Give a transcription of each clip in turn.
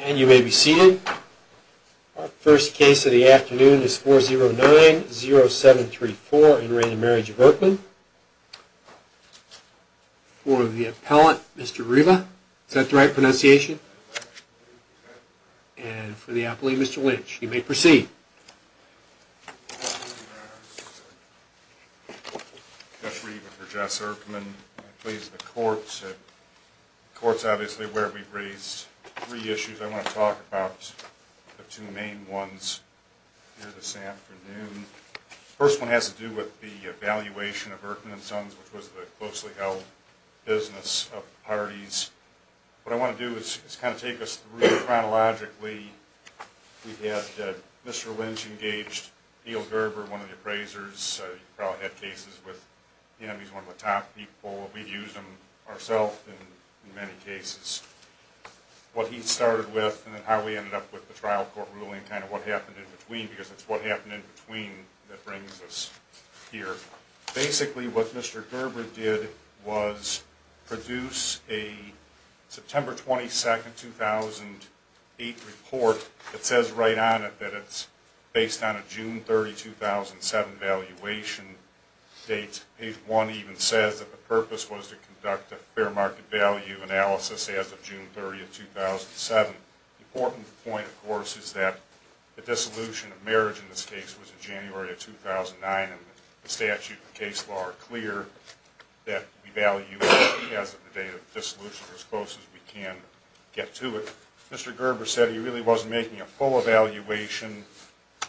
And you may be seated. Our first case of the afternoon is 4090734 in re the Marriage of Erkman. For the appellate, Mr. Riva. Is that the right pronunciation? And for the appellate, Mr. Lynch. You may proceed. Judge Riva for Jess Erkman. I'm pleased with the court. The court's obviously aware we've raised three issues I want to talk about. The two main ones here this afternoon. The first one has to do with the evaluation of Erkman & Sons, which was the closely held business of the parties. What I want to do is kind of take us through chronologically. We had Mr. Lynch engaged, Neil Gerber, one of the appraisers. You've probably had cases with him. He's one of the top people. We've used him ourselves in many cases. What he started with and how we ended up with the trial court ruling. Kind of what happened in between because it's what happened in between that brings us here. Basically what Mr. Gerber did was produce a September 22, 2008 report that says right on it that it's based on a June 30, 2007 valuation date. Page 1 even says that the purpose was to conduct a fair market value analysis as of June 30, 2007. The important point, of course, is that the dissolution of marriage in this case was in January of 2009. The statute and case law are clear that we value it as of the date of dissolution as close as we can get to it. Mr. Gerber said he really wasn't making a full evaluation.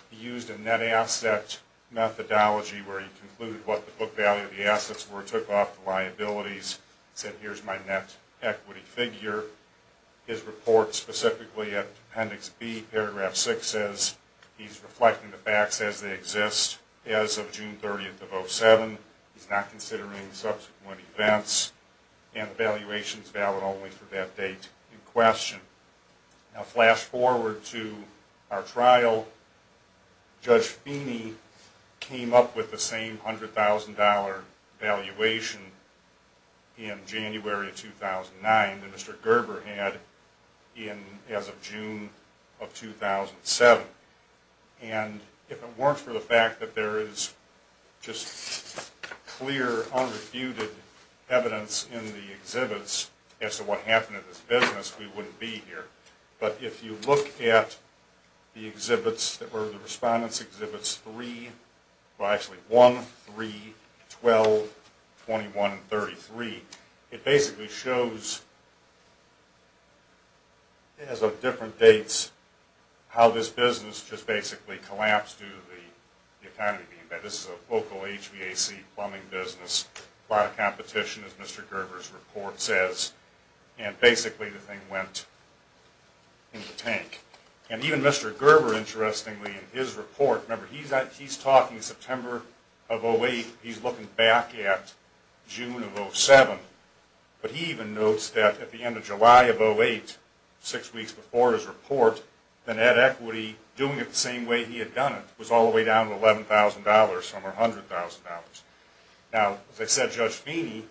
He used a net asset methodology where he concluded what the book value of the assets were and took off the liabilities. He said here's my net equity figure. His report specifically at Appendix B, Paragraph 6 says he's reflecting the facts as they exist as of June 30, 2007. He's not considering subsequent events and the valuation is valid only for that date in question. Now flash forward to our trial. Judge Feeney came up with the same $100,000 valuation in January of 2009. that Mr. Gerber had as of June of 2007. And if it weren't for the fact that there is just clear unrefuted evidence in the exhibits as to what happened in this business, we wouldn't be here. But if you look at the exhibits that were the Respondent's Exhibits 1, 3, 12, 21, and 33, it basically shows as of different dates how this business just basically collapsed due to the economy being bad. This is a local HVAC plumbing business. A lot of competition as Mr. Gerber's report says. And basically the thing went into the tank. And even Mr. Gerber interestingly in his report, remember he's talking September of 2008. He's looking back at June of 2007. But he even notes that at the end of July of 2008, six weeks before his report, the net equity doing it the same way he had done it was all the way down to $11,000 or $100,000. Now as I said, Judge Feeney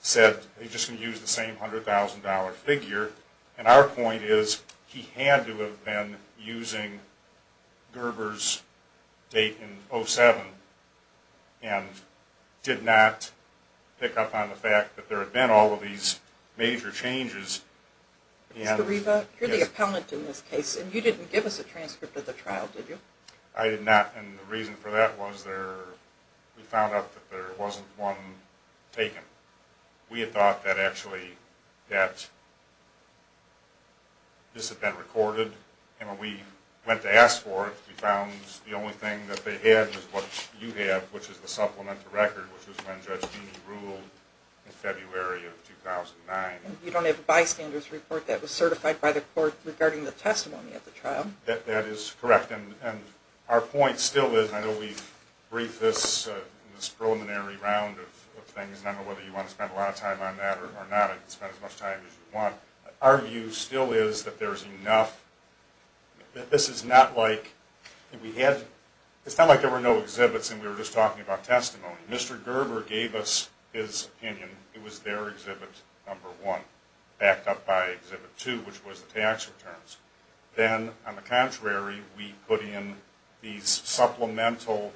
said he's just going to use the same $100,000 figure. And our point is he had to have been using Gerber's date in 2007. And did not pick up on the fact that there had been all of these major changes. Mr. Riva, you're the appellant in this case. And you didn't give us a transcript of the trial, did you? I did not. And the reason for that was we found out that there wasn't one taken. We had thought that actually that this had been recorded. And when we went to ask for it, we found the only thing that they had was what you have, which is the supplemental record, which was when Judge Feeney ruled in February of 2009. You don't have a bystander's report that was certified by the court regarding the testimony of the trial. That is correct. And our point still is, I know we've briefed this in this preliminary round of things, and I don't know whether you want to spend a lot of time on that or not. You can spend as much time as you want. Our view still is that there's enough, that this is not like we had, it's not like there were no exhibits and we were just talking about testimony. Mr. Gerber gave us his opinion. It was their exhibit number one, backed up by exhibit two, which was the tax returns. Then, on the contrary, we put in these supplemental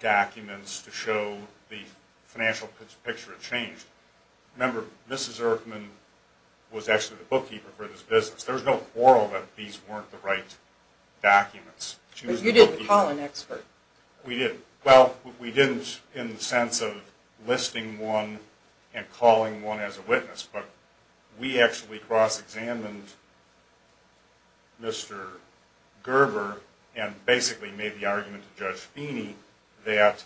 documents to show the financial picture had changed. Remember, Mrs. Erfman was actually the bookkeeper for this business. There was no quarrel that these weren't the right documents. But you did call an expert. We did. Well, we didn't in the sense of listing one and calling one as a witness, but we actually cross-examined Mr. Gerber and basically made the argument to Judge Feeney that,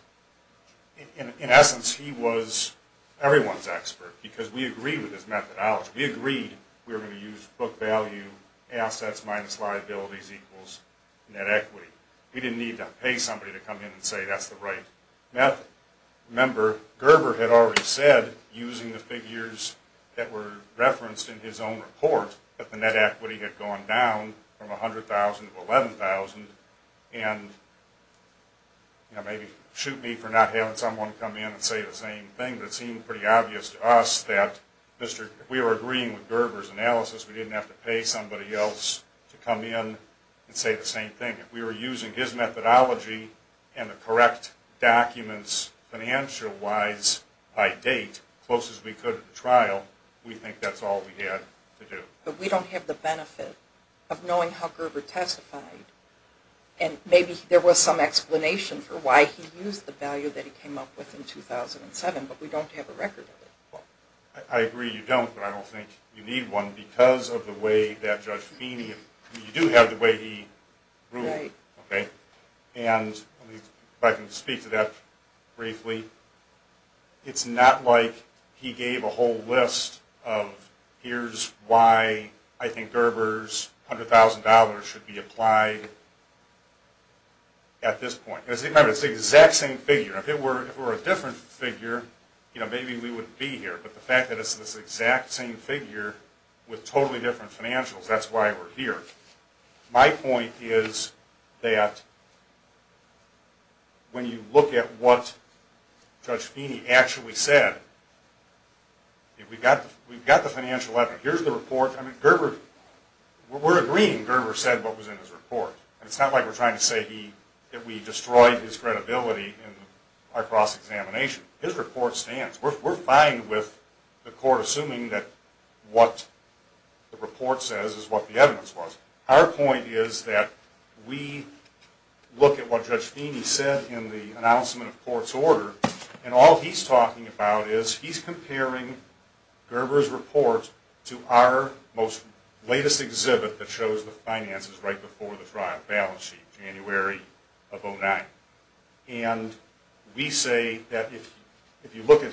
in essence, he was everyone's expert because we agreed with his methodology. We agreed we were going to use book value, assets minus liabilities equals net equity. We didn't need to pay somebody to come in and say that's the right method. Remember, Gerber had already said, using the figures that were referenced in his own report, that the net equity had gone down from $100,000 to $11,000. And maybe shoot me for not having someone come in and say the same thing, but it seemed pretty obvious to us that if we were agreeing with Gerber's analysis, we didn't have to pay somebody else to come in and say the same thing. If we were using his methodology and the correct documents, financial-wise, by date, as close as we could at the trial, we think that's all we had to do. But we don't have the benefit of knowing how Gerber testified, and maybe there was some explanation for why he used the value that he came up with in 2007, but we don't have a record of it. I agree you don't, but I don't think you need one because of the way that Judge Feeney, you do have the way he ruled. And if I can speak to that briefly, it's not like he gave a whole list of, here's why I think Gerber's $100,000 should be applied at this point. Remember, it's the exact same figure. If it were a different figure, maybe we wouldn't be here. But the fact that it's this exact same figure with totally different financials, that's why we're here. My point is that when you look at what Judge Feeney actually said, we've got the financial evidence. Here's the report. I mean, Gerber, we're agreeing Gerber said what was in his report. It's not like we're trying to say that we destroyed his credibility in our cross-examination. His report stands. We're fine with the court assuming that what the report says is what the evidence was. Our point is that we look at what Judge Feeney said in the announcement of court's order, and all he's talking about is he's comparing Gerber's report to our most latest exhibit that shows the finances right before the balance sheet, January of 2009. And we say that if you look at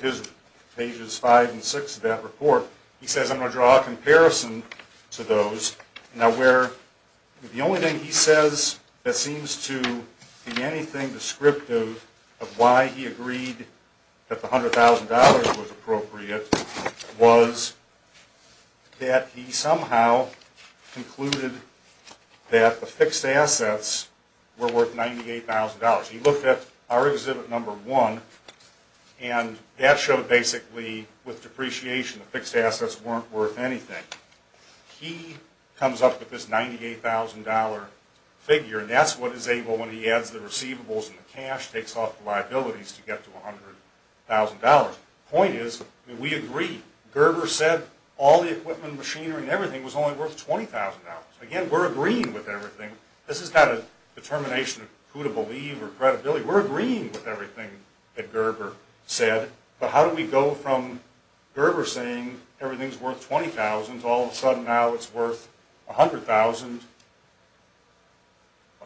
pages five and six of that report, he says, I'm going to draw a comparison to those. Now, the only thing he says that seems to be anything descriptive of why he agreed that the $100,000 was appropriate was that he somehow concluded that the fixed assets were worth $98,000. He looked at our exhibit number one, and that showed basically with depreciation the fixed assets weren't worth anything. He comes up with this $98,000 figure, and that's what is able when he adds the receivables and the cash, takes off the liabilities to get to $100,000. The point is, we agree. Gerber said all the equipment, machinery, and everything was only worth $20,000. Again, we're agreeing with everything. This is not a determination of who to believe or credibility. We're agreeing with everything that Gerber said. But how do we go from Gerber saying everything's worth $20,000 to all of a sudden now it's worth $100,000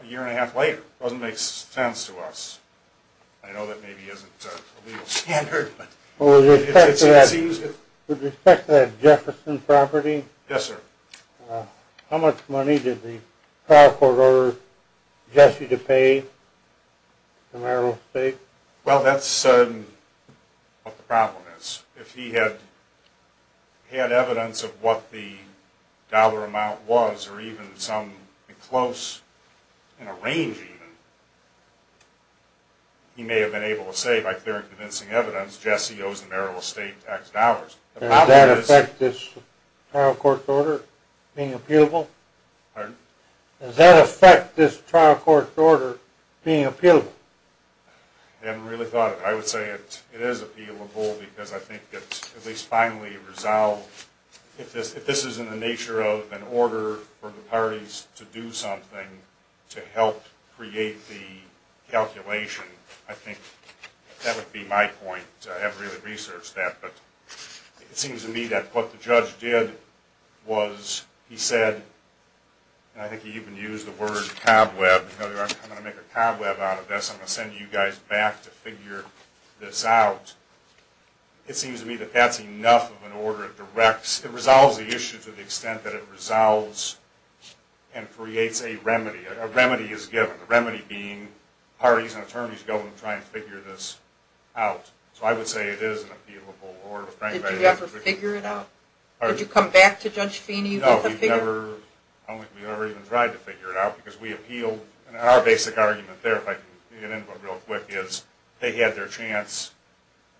a year and a half later? It doesn't make sense to us. I know that maybe isn't a legal standard. Would you expect that Jefferson property? Yes, sir. How much money did the trial court order Jesse to pay the marital estate? Well, that's what the problem is. If he had evidence of what the dollar amount was or even some close in a range even, he may have been able to say by clear and convincing evidence, Jesse owes the marital estate tax dollars. Does that affect this trial court order being appealable? Pardon? Does that affect this trial court order being appealable? I haven't really thought of it. I would say it is appealable because I think it's at least finally resolved. If this is in the nature of an order for the parties to do something to help create the calculation, I think that would be my point. I haven't really researched that. It seems to me that what the judge did was he said, and I think he even used the word cobweb. I'm going to make a cobweb out of this. I'm going to send you guys back to figure this out. It seems to me that that's enough of an order. It resolves the issue to the extent that it resolves and creates a remedy. A remedy is given. So I would say it is an appealable order. Did you ever figure it out? Did you come back to Judge Feeney with a figure? No, we never even tried to figure it out because we appealed. Our basic argument there, if I can get into it real quick, is they had their chance.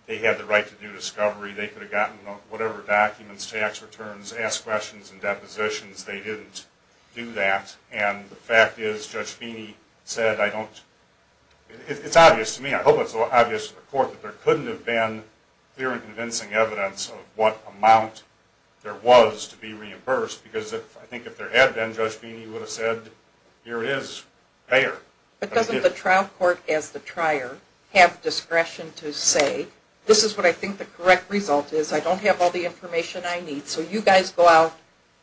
They had the right to do discovery. They could have gotten whatever documents, tax returns, asked questions and depositions. They didn't do that. And the fact is Judge Feeney said I don't – it's obvious to me. I hope it's obvious to the court that there couldn't have been clear and convincing evidence of what amount there was to be reimbursed because I think if there had been, Judge Feeney would have said, here it is, there. But doesn't the trial court as the trier have discretion to say, this is what I think the correct result is. I don't have all the information I need. So you guys go out,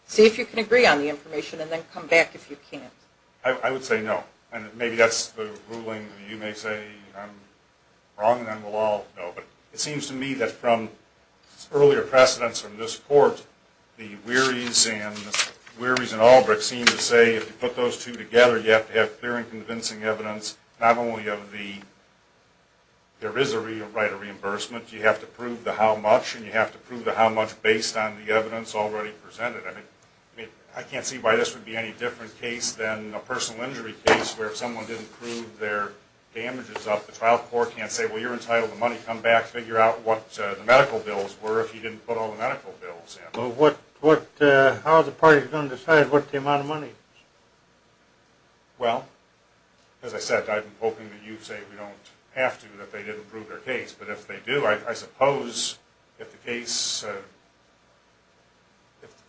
see if you can agree on the information, and then come back if you can't. I would say no. And maybe that's the ruling. You may say I'm wrong, and then we'll all know. But it seems to me that from earlier precedents from this court, the Wearies and Albrecht seem to say if you put those two together, you have to have clear and convincing evidence, not only of the – there is a right of reimbursement. You have to prove the how much, and you have to prove the how much based on the evidence already presented. I can't see why this would be any different case than a personal injury case where someone didn't prove their damages up. The trial court can't say, well, you're entitled to money. Come back, figure out what the medical bills were if you didn't put all the medical bills in. How is the party going to decide what the amount of money is? Well, as I said, I'm hoping that you say we don't have to, that they didn't prove their case. But if they do, I suppose if the case –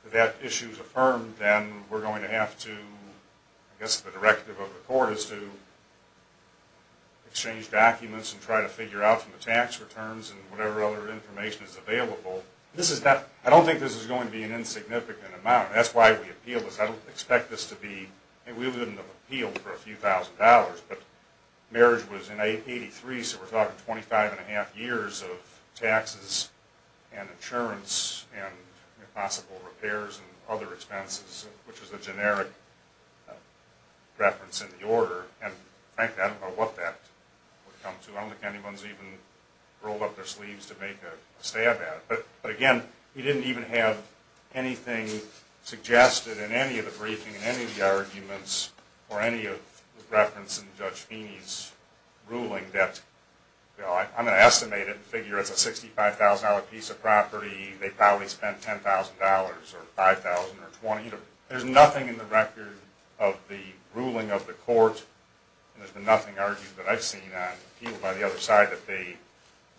if that issue is affirmed, then we're going to have to – I guess the directive of the court is to exchange documents and try to figure out from the tax returns and whatever other information is available. This is not – I don't think this is going to be an insignificant amount. That's why we appealed this. I don't expect this to be – we wouldn't have appealed for a few thousand dollars. But marriage was in 1983, so we're talking 25-and-a-half years of taxes and insurance and possible repairs and other expenses, which was a generic reference in the order. And, frankly, I don't know what that would come to. I don't think anyone's even rolled up their sleeves to make a stab at it. But, again, we didn't even have anything suggested in any of the briefing and any of the arguments or any of the reference in Judge Feeney's ruling that – I'm going to estimate it and figure it's a $65,000 piece of property. They probably spent $10,000 or $5,000 or $20,000. There's nothing in the record of the ruling of the court and there's been nothing argued that I've seen on appeal by the other side that they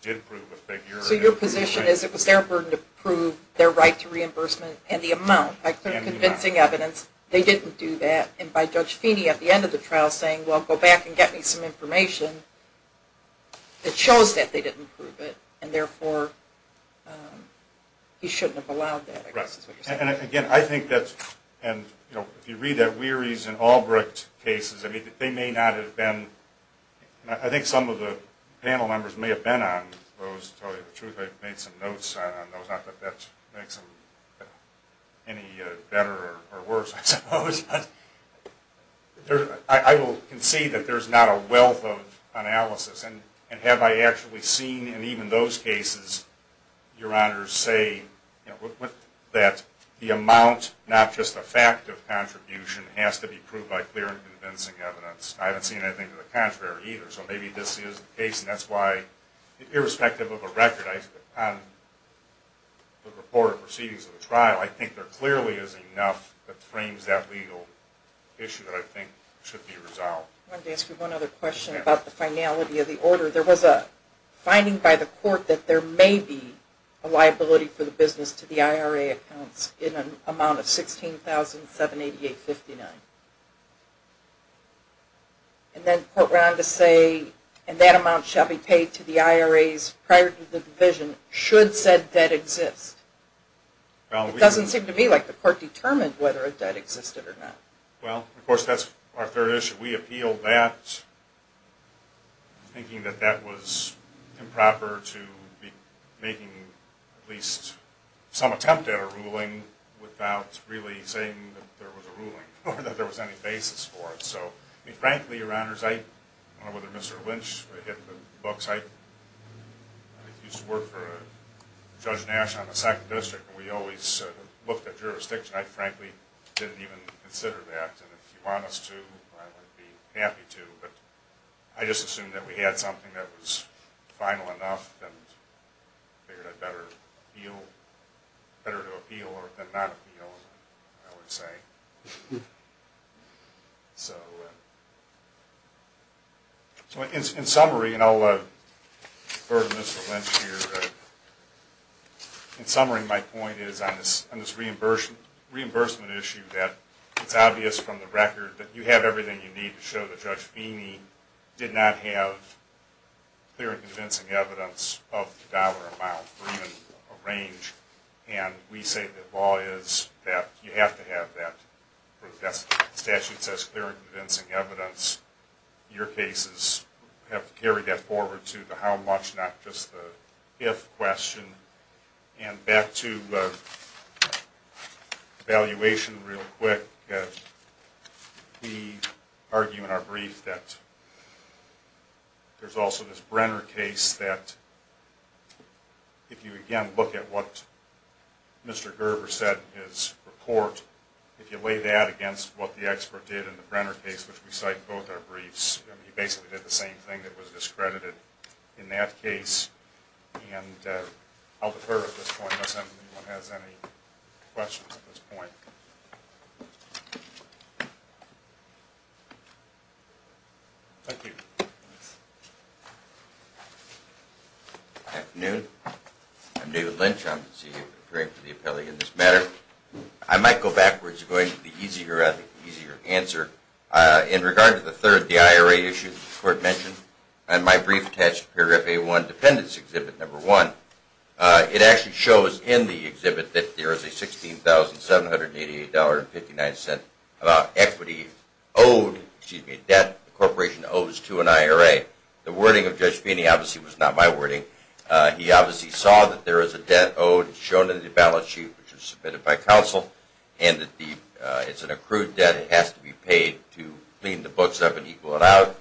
did prove a figure. So your position is it was their burden to prove their right to reimbursement and the amount by convincing evidence they didn't do that and by Judge Feeney at the end of the trial saying, well, go back and get me some information that shows that they didn't prove it and, therefore, he shouldn't have allowed that, I guess is what you're saying. And, again, I think that's – and, you know, if you read that, Weery's and Albrecht's cases, I mean, they may not have been – I think some of the panel members may have been on those, to tell you the truth. I believe I've made some notes on those. Not that that makes them any better or worse, I suppose. But I will concede that there's not a wealth of analysis. And have I actually seen in even those cases, Your Honor, say that the amount, not just the fact of contribution, has to be proved by clear and convincing evidence? I haven't seen anything to the contrary either. So maybe this is the case. And that's why, irrespective of a record on the report or proceedings of the trial, I think there clearly isn't enough that frames that legal issue that I think should be resolved. I wanted to ask you one other question about the finality of the order. There was a finding by the court that there may be a liability for the business to the IRA accounts in an amount of $16,788.59. And then the court went on to say, and that amount shall be paid to the IRAs prior to the division should said debt exist. It doesn't seem to me like the court determined whether a debt existed or not. Well, of course, that's our third issue. We appealed that thinking that that was improper to be making at least some attempt at a ruling without really saying that there was a ruling or that there was any basis for it. So, frankly, Your Honors, I don't know whether Mr. Lynch hit the books. I used to work for Judge Nash on the 2nd District. We always looked at jurisdiction. I frankly didn't even consider that. And if you want us to, I would be happy to. But I just assumed that we had something that was final enough and figured it better to appeal than not appeal, I would say. So, in summary, and I'll defer to Mr. Lynch here. In summary, my point is on this reimbursement issue that it's obvious from the record that you have everything you need to show that Judge Feeney did not have clear and convincing evidence of the dollar amount or even a range. And we say that law is that you have to have that. The statute says clear and convincing evidence. Your cases have to carry that forward to the how much, not just the if question. And back to evaluation real quick. We argue in our brief that there's also this Brenner case that, if you again look at what Mr. Gerber said in his report, if you weigh that against what the expert did in the Brenner case, which we cite in both our briefs, he basically did the same thing that was discredited in that case. And I'll defer at this point unless anyone has any questions at this point. Thank you. Good afternoon. I'm David Lynch. I'm the CEO for the appellate in this matter. I might go backwards to go into the easier answer. In regard to the third, the IRA issue that the court mentioned, and my brief attached to paragraph A-1, dependents exhibit number one, it actually shows in the exhibit that there is a $16,788.59 equity owed, excuse me, debt the corporation owes to an IRA. The wording of Judge Feeney obviously was not my wording. He obviously saw that there is a debt owed. It's shown in the balance sheet, which was submitted by counsel, and that it's an accrued debt. It has to be paid to clean the books up and equal it out.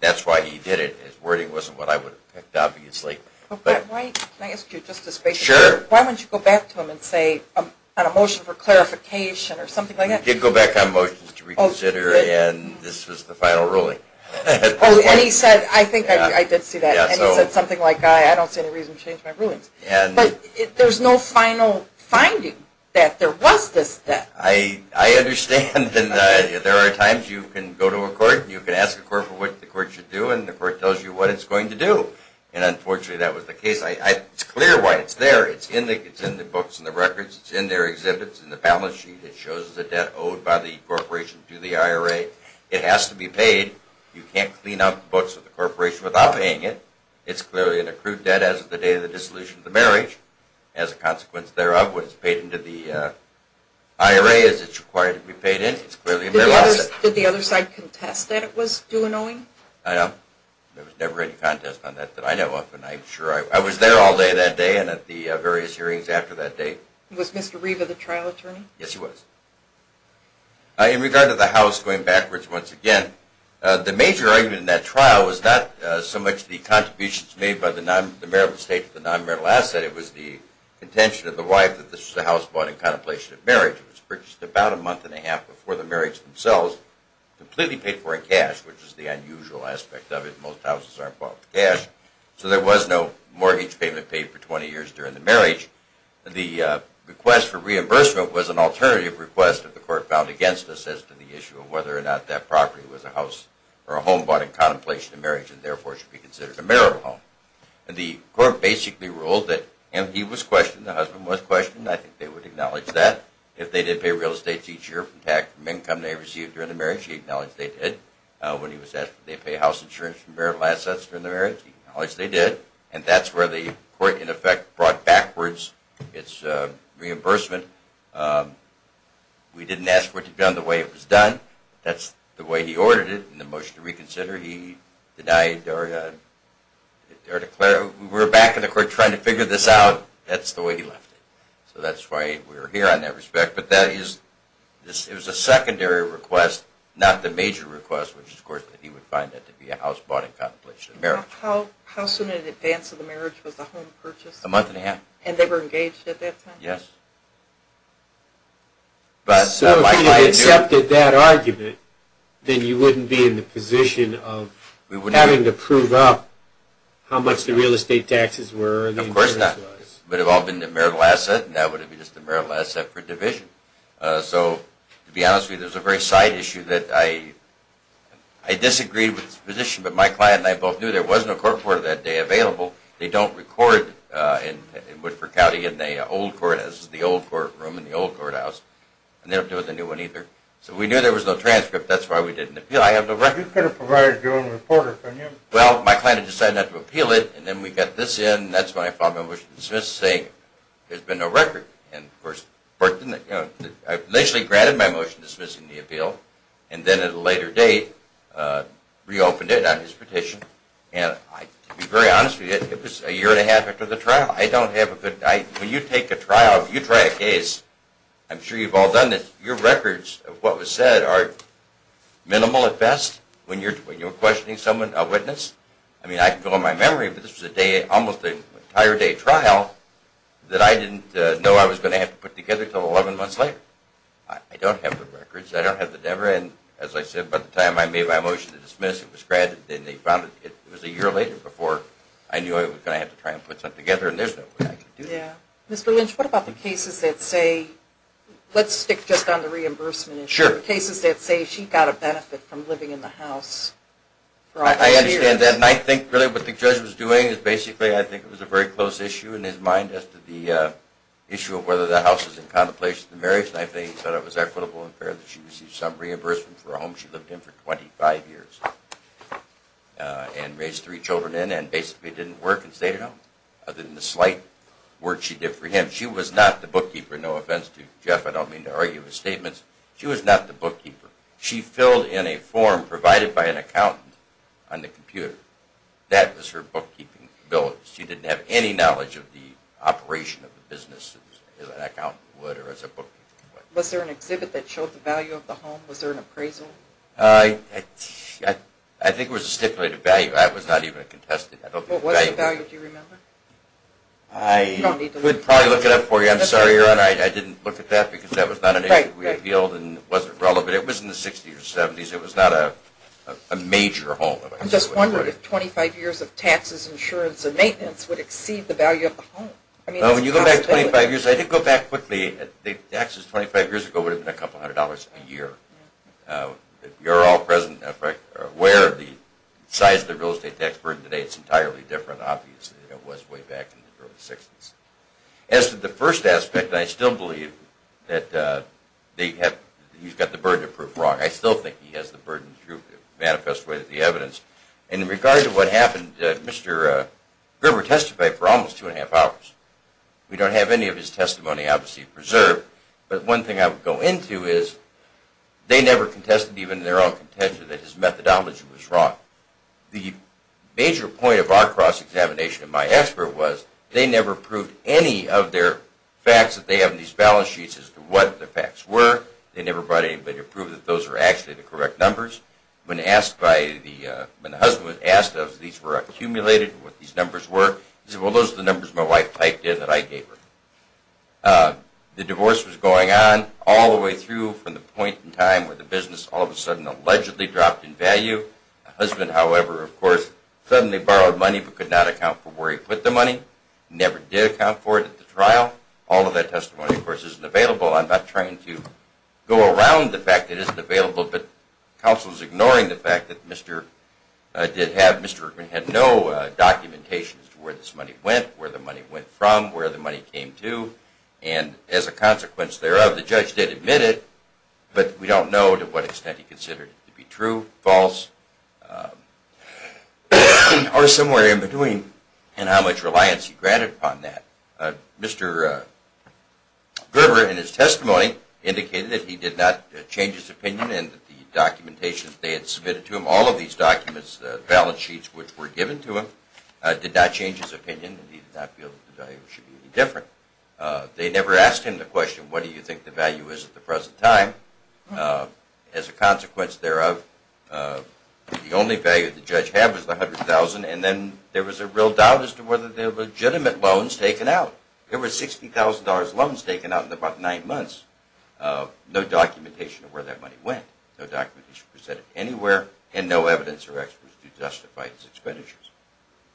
That's why he did it. His wording wasn't what I would have picked, obviously. Can I ask you just a space? Sure. Why don't you go back to him and say, on a motion for clarification, or something like that? He did go back on motions to reconsider, and this was the final ruling. And he said, I think I did see that, and he said something like, I don't see any reason to change my rulings. But there's no final finding that there was this debt. I understand, and there are times you can go to a court and you can ask a court for what the court should do, and the court tells you what it's going to do. And unfortunately, that was the case. It's clear why it's there. It's in the books and the records. It's in their exhibits, in the balance sheet. It shows the debt owed by the corporation to the IRA. It has to be paid. You can't clean up the books of the corporation without paying it. It's clearly an accrued debt as of the day of the dissolution of the marriage. As a consequence thereof, what is paid into the IRA is it's required to be paid in. Did the other side contest that it was do-annoying? I know. There was never any contest on that that I know of, and I'm sure I was there all day that day and at the various hearings after that date. Was Mr. Riva the trial attorney? Yes, he was. In regard to the house going backwards once again, the major argument in that trial was not so much the contributions made by the Maryland State to the non-marital asset. It was the contention of the wife that the house bought in contemplation of marriage. It was purchased about a month and a half before the marriage themselves, completely paid for in cash, which is the unusual aspect of it. Most houses aren't bought with cash. So there was no mortgage payment paid for 20 years during the marriage. The request for reimbursement was an alternative request that the court found against us as to the issue of whether or not that property was a house or a home bought in contemplation of marriage and therefore should be considered a marital home. The court basically ruled that if he was questioned, the husband was questioned, I think they would acknowledge that. If they did pay real estate each year from income they received during the marriage, he acknowledged they did. When he was asked if they pay house insurance from marital assets during the marriage, he acknowledged they did. And that's where the court in effect brought backwards its reimbursement. We didn't ask for it to be done the way it was done. That's the way he ordered it in the motion to reconsider. He denied or declared, we're back in the court trying to figure this out. That's the way he left it. So that's why we're here in that respect. But it was a secondary request, not the major request, which is of course that he would find that to be a house bought in contemplation of marriage. How soon in advance of the marriage was the home purchased? A month and a half. And they were engaged at that time? Yes. So if you had accepted that argument, then you wouldn't be in the position of having to prove up how much the real estate taxes were Of course not. It would have all been the marital asset, and that would have been just the marital asset for division. So to be honest with you, there's a very side issue that I disagree with this position, but my client and I both knew there was no court order that day available. They don't record in Woodford County in the old court, this is the old courtroom in the old courthouse, and they don't do it in the new one either. So we knew there was no transcript, that's why we didn't appeal. You could have provided your own reporter, couldn't you? Well, my client had decided not to appeal it, and then we got this in, and that's when I filed my motion to dismiss, saying there's been no record. And of course, I initially granted my motion dismissing the appeal, and then at a later date reopened it on his petition, and to be very honest with you, it was a year and a half after the trial. I don't have a good, when you take a trial, you try a case, I'm sure you've all done this, your records of what was said are minimal at best, when you're questioning someone, a witness. I mean, I can go on my memory, but this was a day, almost an entire day trial, that I didn't know I was going to have to put together until 11 months later. I don't have the records, I don't have the delivery, and as I said, by the time I made my motion to dismiss, it was granted, and they found it, it was a year later before I knew I was going to have to try and put something together, and there's no way I could do that. Mr. Lynch, what about the cases that say, let's stick just on the reimbursement issue, I understand that, and I think really what the judge was doing is basically, I think it was a very close issue in his mind, as to the issue of whether the house is in contemplation of the marriage, and I think he thought it was equitable and fair that she receive some reimbursement for a home she lived in for 25 years, and raised three children in, and basically didn't work and stayed at home, other than the slight work she did for him. She was not the bookkeeper, no offense to Jeff, I don't mean to argue his statements, she was not the bookkeeper, she filled in a form provided by an accountant on the computer, that was her bookkeeping ability, she didn't have any knowledge of the operation of the business as an accountant would, or as a bookkeeper would. Was there an exhibit that showed the value of the home, was there an appraisal? I think it was a stipulated value, that was not even a contested value. What was the value, do you remember? I would probably look it up for you, I'm sorry your honor, I didn't look at that, because that was not an issue we appealed and wasn't relevant, it was in the 60s or 70s, it was not a major home. I'm just wondering if 25 years of taxes, insurance, and maintenance would exceed the value of the home. Well when you go back 25 years, I did go back quickly, taxes 25 years ago would have been a couple hundred dollars a year. You're all present and aware of the size of the real estate tax burden today, it's entirely different obviously than it was way back in the early 60s. As to the first aspect, I still believe that he's got the burden of proof wrong, I still think he has the burden of proof, it manifests with the evidence. And in regard to what happened, Mr. Gribber testified for almost two and a half hours. We don't have any of his testimony obviously preserved, but one thing I would go into is, they never contested even in their own contention that his methodology was wrong. The major point of our cross-examination and my expert was, they never proved any of their facts that they have in these balance sheets as to what the facts were, they never brought anybody to prove that those were actually the correct numbers. When the husband was asked if these were accumulated, what these numbers were, he said, well those are the numbers my wife typed in that I gave her. The divorce was going on all the way through from the point in time where the business all of a sudden allegedly dropped in value. The husband, however, of course, suddenly borrowed money but could not account for where he put the money, never did account for it at the trial. All of that testimony, of course, isn't available. I'm not trying to go around the fact that it isn't available, but counsel is ignoring the fact that Mr. Gribber had no documentation as to where this money went, where the money went from, where the money came to, and as a consequence thereof, the judge did admit it, but we don't know to what extent he considered it to be true, false, or somewhere in between, and how much reliance he granted upon that. Mr. Gribber, in his testimony, indicated that he did not change his opinion and that the documentation that they had submitted to him, all of these documents, the balance sheets which were given to him, did not change his opinion, and he did not feel that the value should be any different. They never asked him the question, what do you think the value is at the present time? As a consequence thereof, the only value the judge had was the $100,000, and then there was a real doubt as to whether they were legitimate loans taken out. There were $60,000 loans taken out in about nine months, no documentation of where that money went, no documentation presented anywhere, and no evidence or experts to justify his expenditures.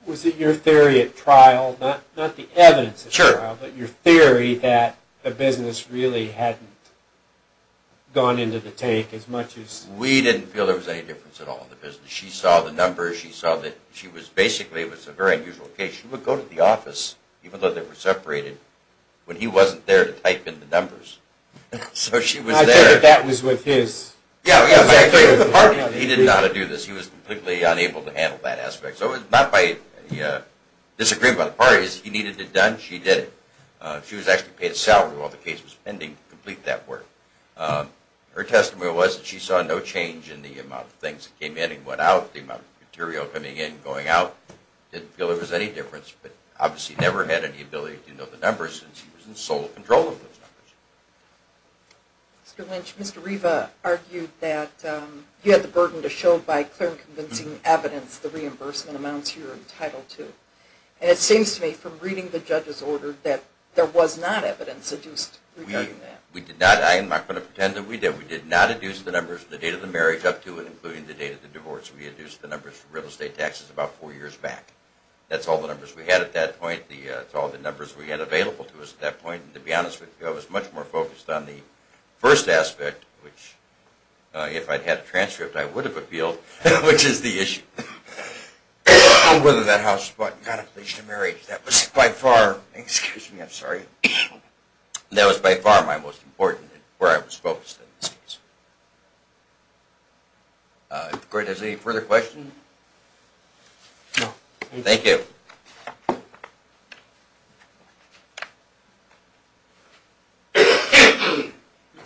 Was it your theory at trial, not the evidence at trial, but your theory that the business really hadn't gone into the tank as much as... We didn't feel there was any difference at all in the business. She saw the numbers, she saw that she was basically, it was a very unusual case, she would go to the office, even though they were separated, when he wasn't there to type in the numbers, so she was there... I figured that was with his... Yeah, I figured with the partner, he didn't know how to do this, he was completely unable to handle that aspect. So it was not by disagreement by the parties, he needed it done, she did it. She was actually paid a salary while the case was pending to complete that work. Her testimony was that she saw no change in the amount of things that came in and went out, the amount of material coming in and going out, didn't feel there was any difference, but obviously never had any ability to know the numbers, since she was in sole control of those numbers. Mr. Lynch, Mr. Riva argued that you had the burden to show by clear and convincing evidence the reimbursement amounts you were entitled to, and it seems to me from reading the judge's order that there was not evidence adduced regarding that. We did not, I'm not going to pretend that we did, we did not adduce the numbers from the date of the marriage up to and including the date of the divorce, we adduced the numbers from real estate taxes about four years back. That's all the numbers we had at that point, that's all the numbers we had available to us at that point, and to be honest with you, I was much more focused on the first aspect, which if I'd had a transcript I would have appealed, which is the issue. Whether that house was bought and got a place to marry, that was by far, excuse me, I'm sorry, that was by far my most important, where I was focused in this case. If the court has any further questions? No, thank you. Thank you.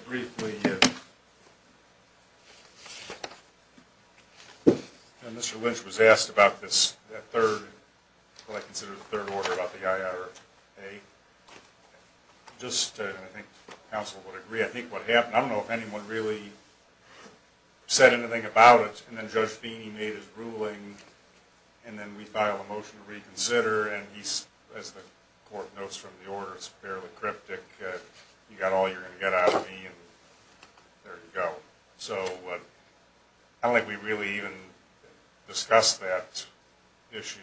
Briefly, Mr. Lynch was asked about this, that third, what I consider the third order about the IRA. Just, and I think counsel would agree, I think what happened, I don't know if anyone really said anything about it, and then Judge Feeney made his ruling, and then we filed a motion to reconsider, and he, as the court notes from the order, it's fairly cryptic, you got all you're going to get out of me, and there you go. So, I don't think we really even discussed that issue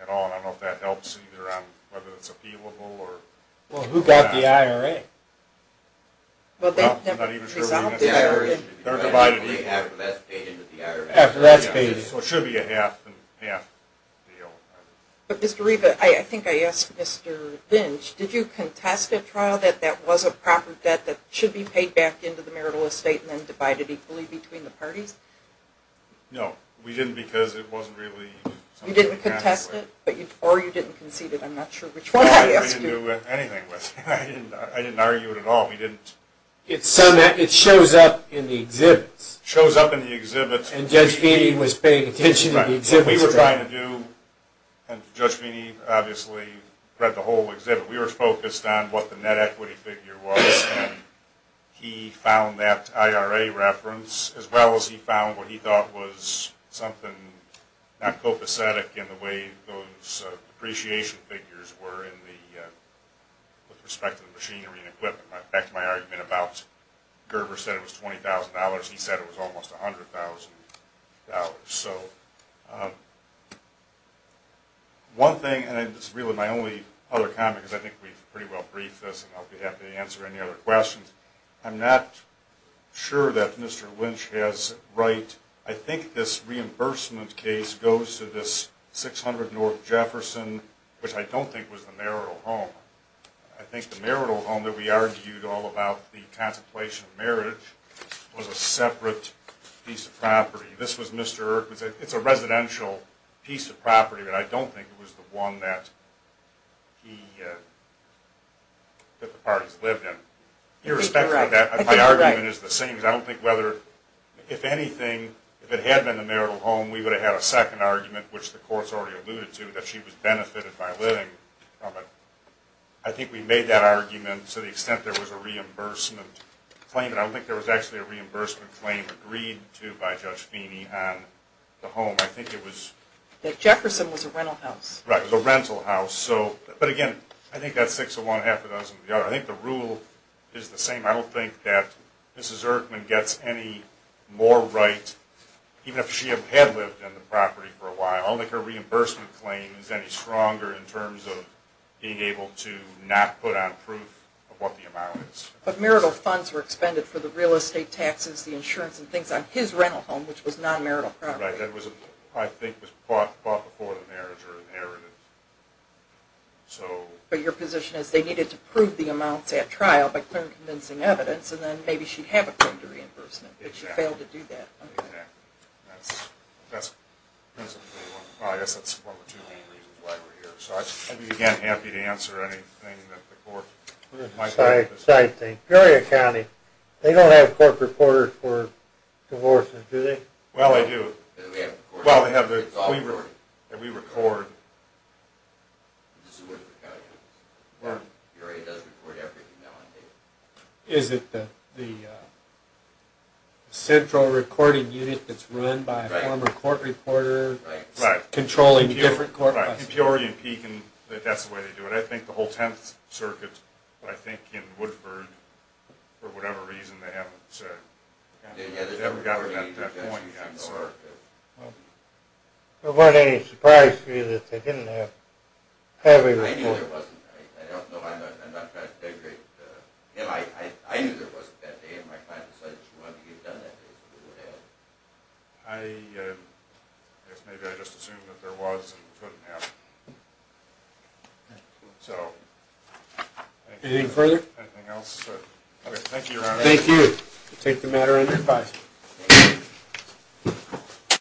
at all, and I don't know if that helps either on whether it's appealable or not. Well, who got the IRA? Well, I'm not even sure we necessarily did. They're divided equally after that's paid into the IRA. So, it should be a half and half deal. But, Mr. Riva, I think I asked Mr. Lynch, did you contest a trial that that was a proper debt that should be paid back into the marital estate and then divided equally between the parties? No, we didn't because it wasn't really something to be contested with. You didn't contest it, or you didn't concede it, I'm not sure which one I asked you. I didn't do anything with it. I didn't argue it at all. It shows up in the exhibits. It shows up in the exhibits. And Judge Feeney was paying attention to the exhibits. What we were trying to do, and Judge Feeney obviously read the whole exhibit, we were focused on what the net equity figure was, and he found that IRA reference as well as he found what he thought was something not copacetic in the way those depreciation figures were with respect to the machinery and equipment. Back to my argument about Gerber said it was $20,000. He said it was almost $100,000. So, one thing, and it's really my only other comment because I think we've pretty well briefed this and I'll be happy to answer any other questions. I think this reimbursement case goes to this 600 North Jefferson, which I don't think was the marital home. I think the marital home that we argued all about the contemplation of marriage was a separate piece of property. This was Mr. Erkman's, it's a residential piece of property, but I don't think it was the one that the parties lived in. Irrespective of that, my argument is the same. I don't think whether, if anything, if it had been the marital home, we would have had a second argument, which the courts already alluded to, that she was benefited by living. I think we made that argument to the extent there was a reimbursement claim, but I don't think there was actually a reimbursement claim agreed to by Judge Feeney on the home. I think it was... That Jefferson was a rental house. Right, it was a rental house. But again, I think that's six of one, half of those of the other. I think the rule is the same. I don't think that Mrs. Erkman gets any more right, even if she had lived on the property for a while, I don't think her reimbursement claim is any stronger in terms of being able to not put on proof of what the amount is. But marital funds were expended for the real estate taxes, the insurance and things on his rental home, which was non-marital property. Right, that was, I think, was bought before the marriage or inherited. But your position is they needed to prove the amounts at trial by clear and convincing evidence, and then maybe she'd have a claim to reimbursement, but she failed to do that. Exactly. That's one of the two main reasons why we're here. So I'd be, again, happy to answer anything that the court might have. One other side thing. Peoria County, they don't have court reporters for divorces, do they? Well, they do. Well, they have the... It's all recorded. ...that we record. This is Woodford County. Peoria does record everything now on tape. Is it the central recording unit that's run by a former court reporter? Right. Controlling the different court processes? Right. Peoria and Pekin, that's the way they do it. I think the whole 10th Circuit, but I think in Woodford, for whatever reason, they haven't got it at that point yet. Well, it wasn't any surprise to you that they didn't have a reporter. I knew there wasn't. I don't know. I'm not trying to degrade. I knew there wasn't that day in my mind, so I just wanted to get it done that day, so we would have it. I guess maybe I just assumed that there was and couldn't have. So... Anything further? Anything else? Okay. Thank you, Your Honor. Thank you. We'll take the matter under advice.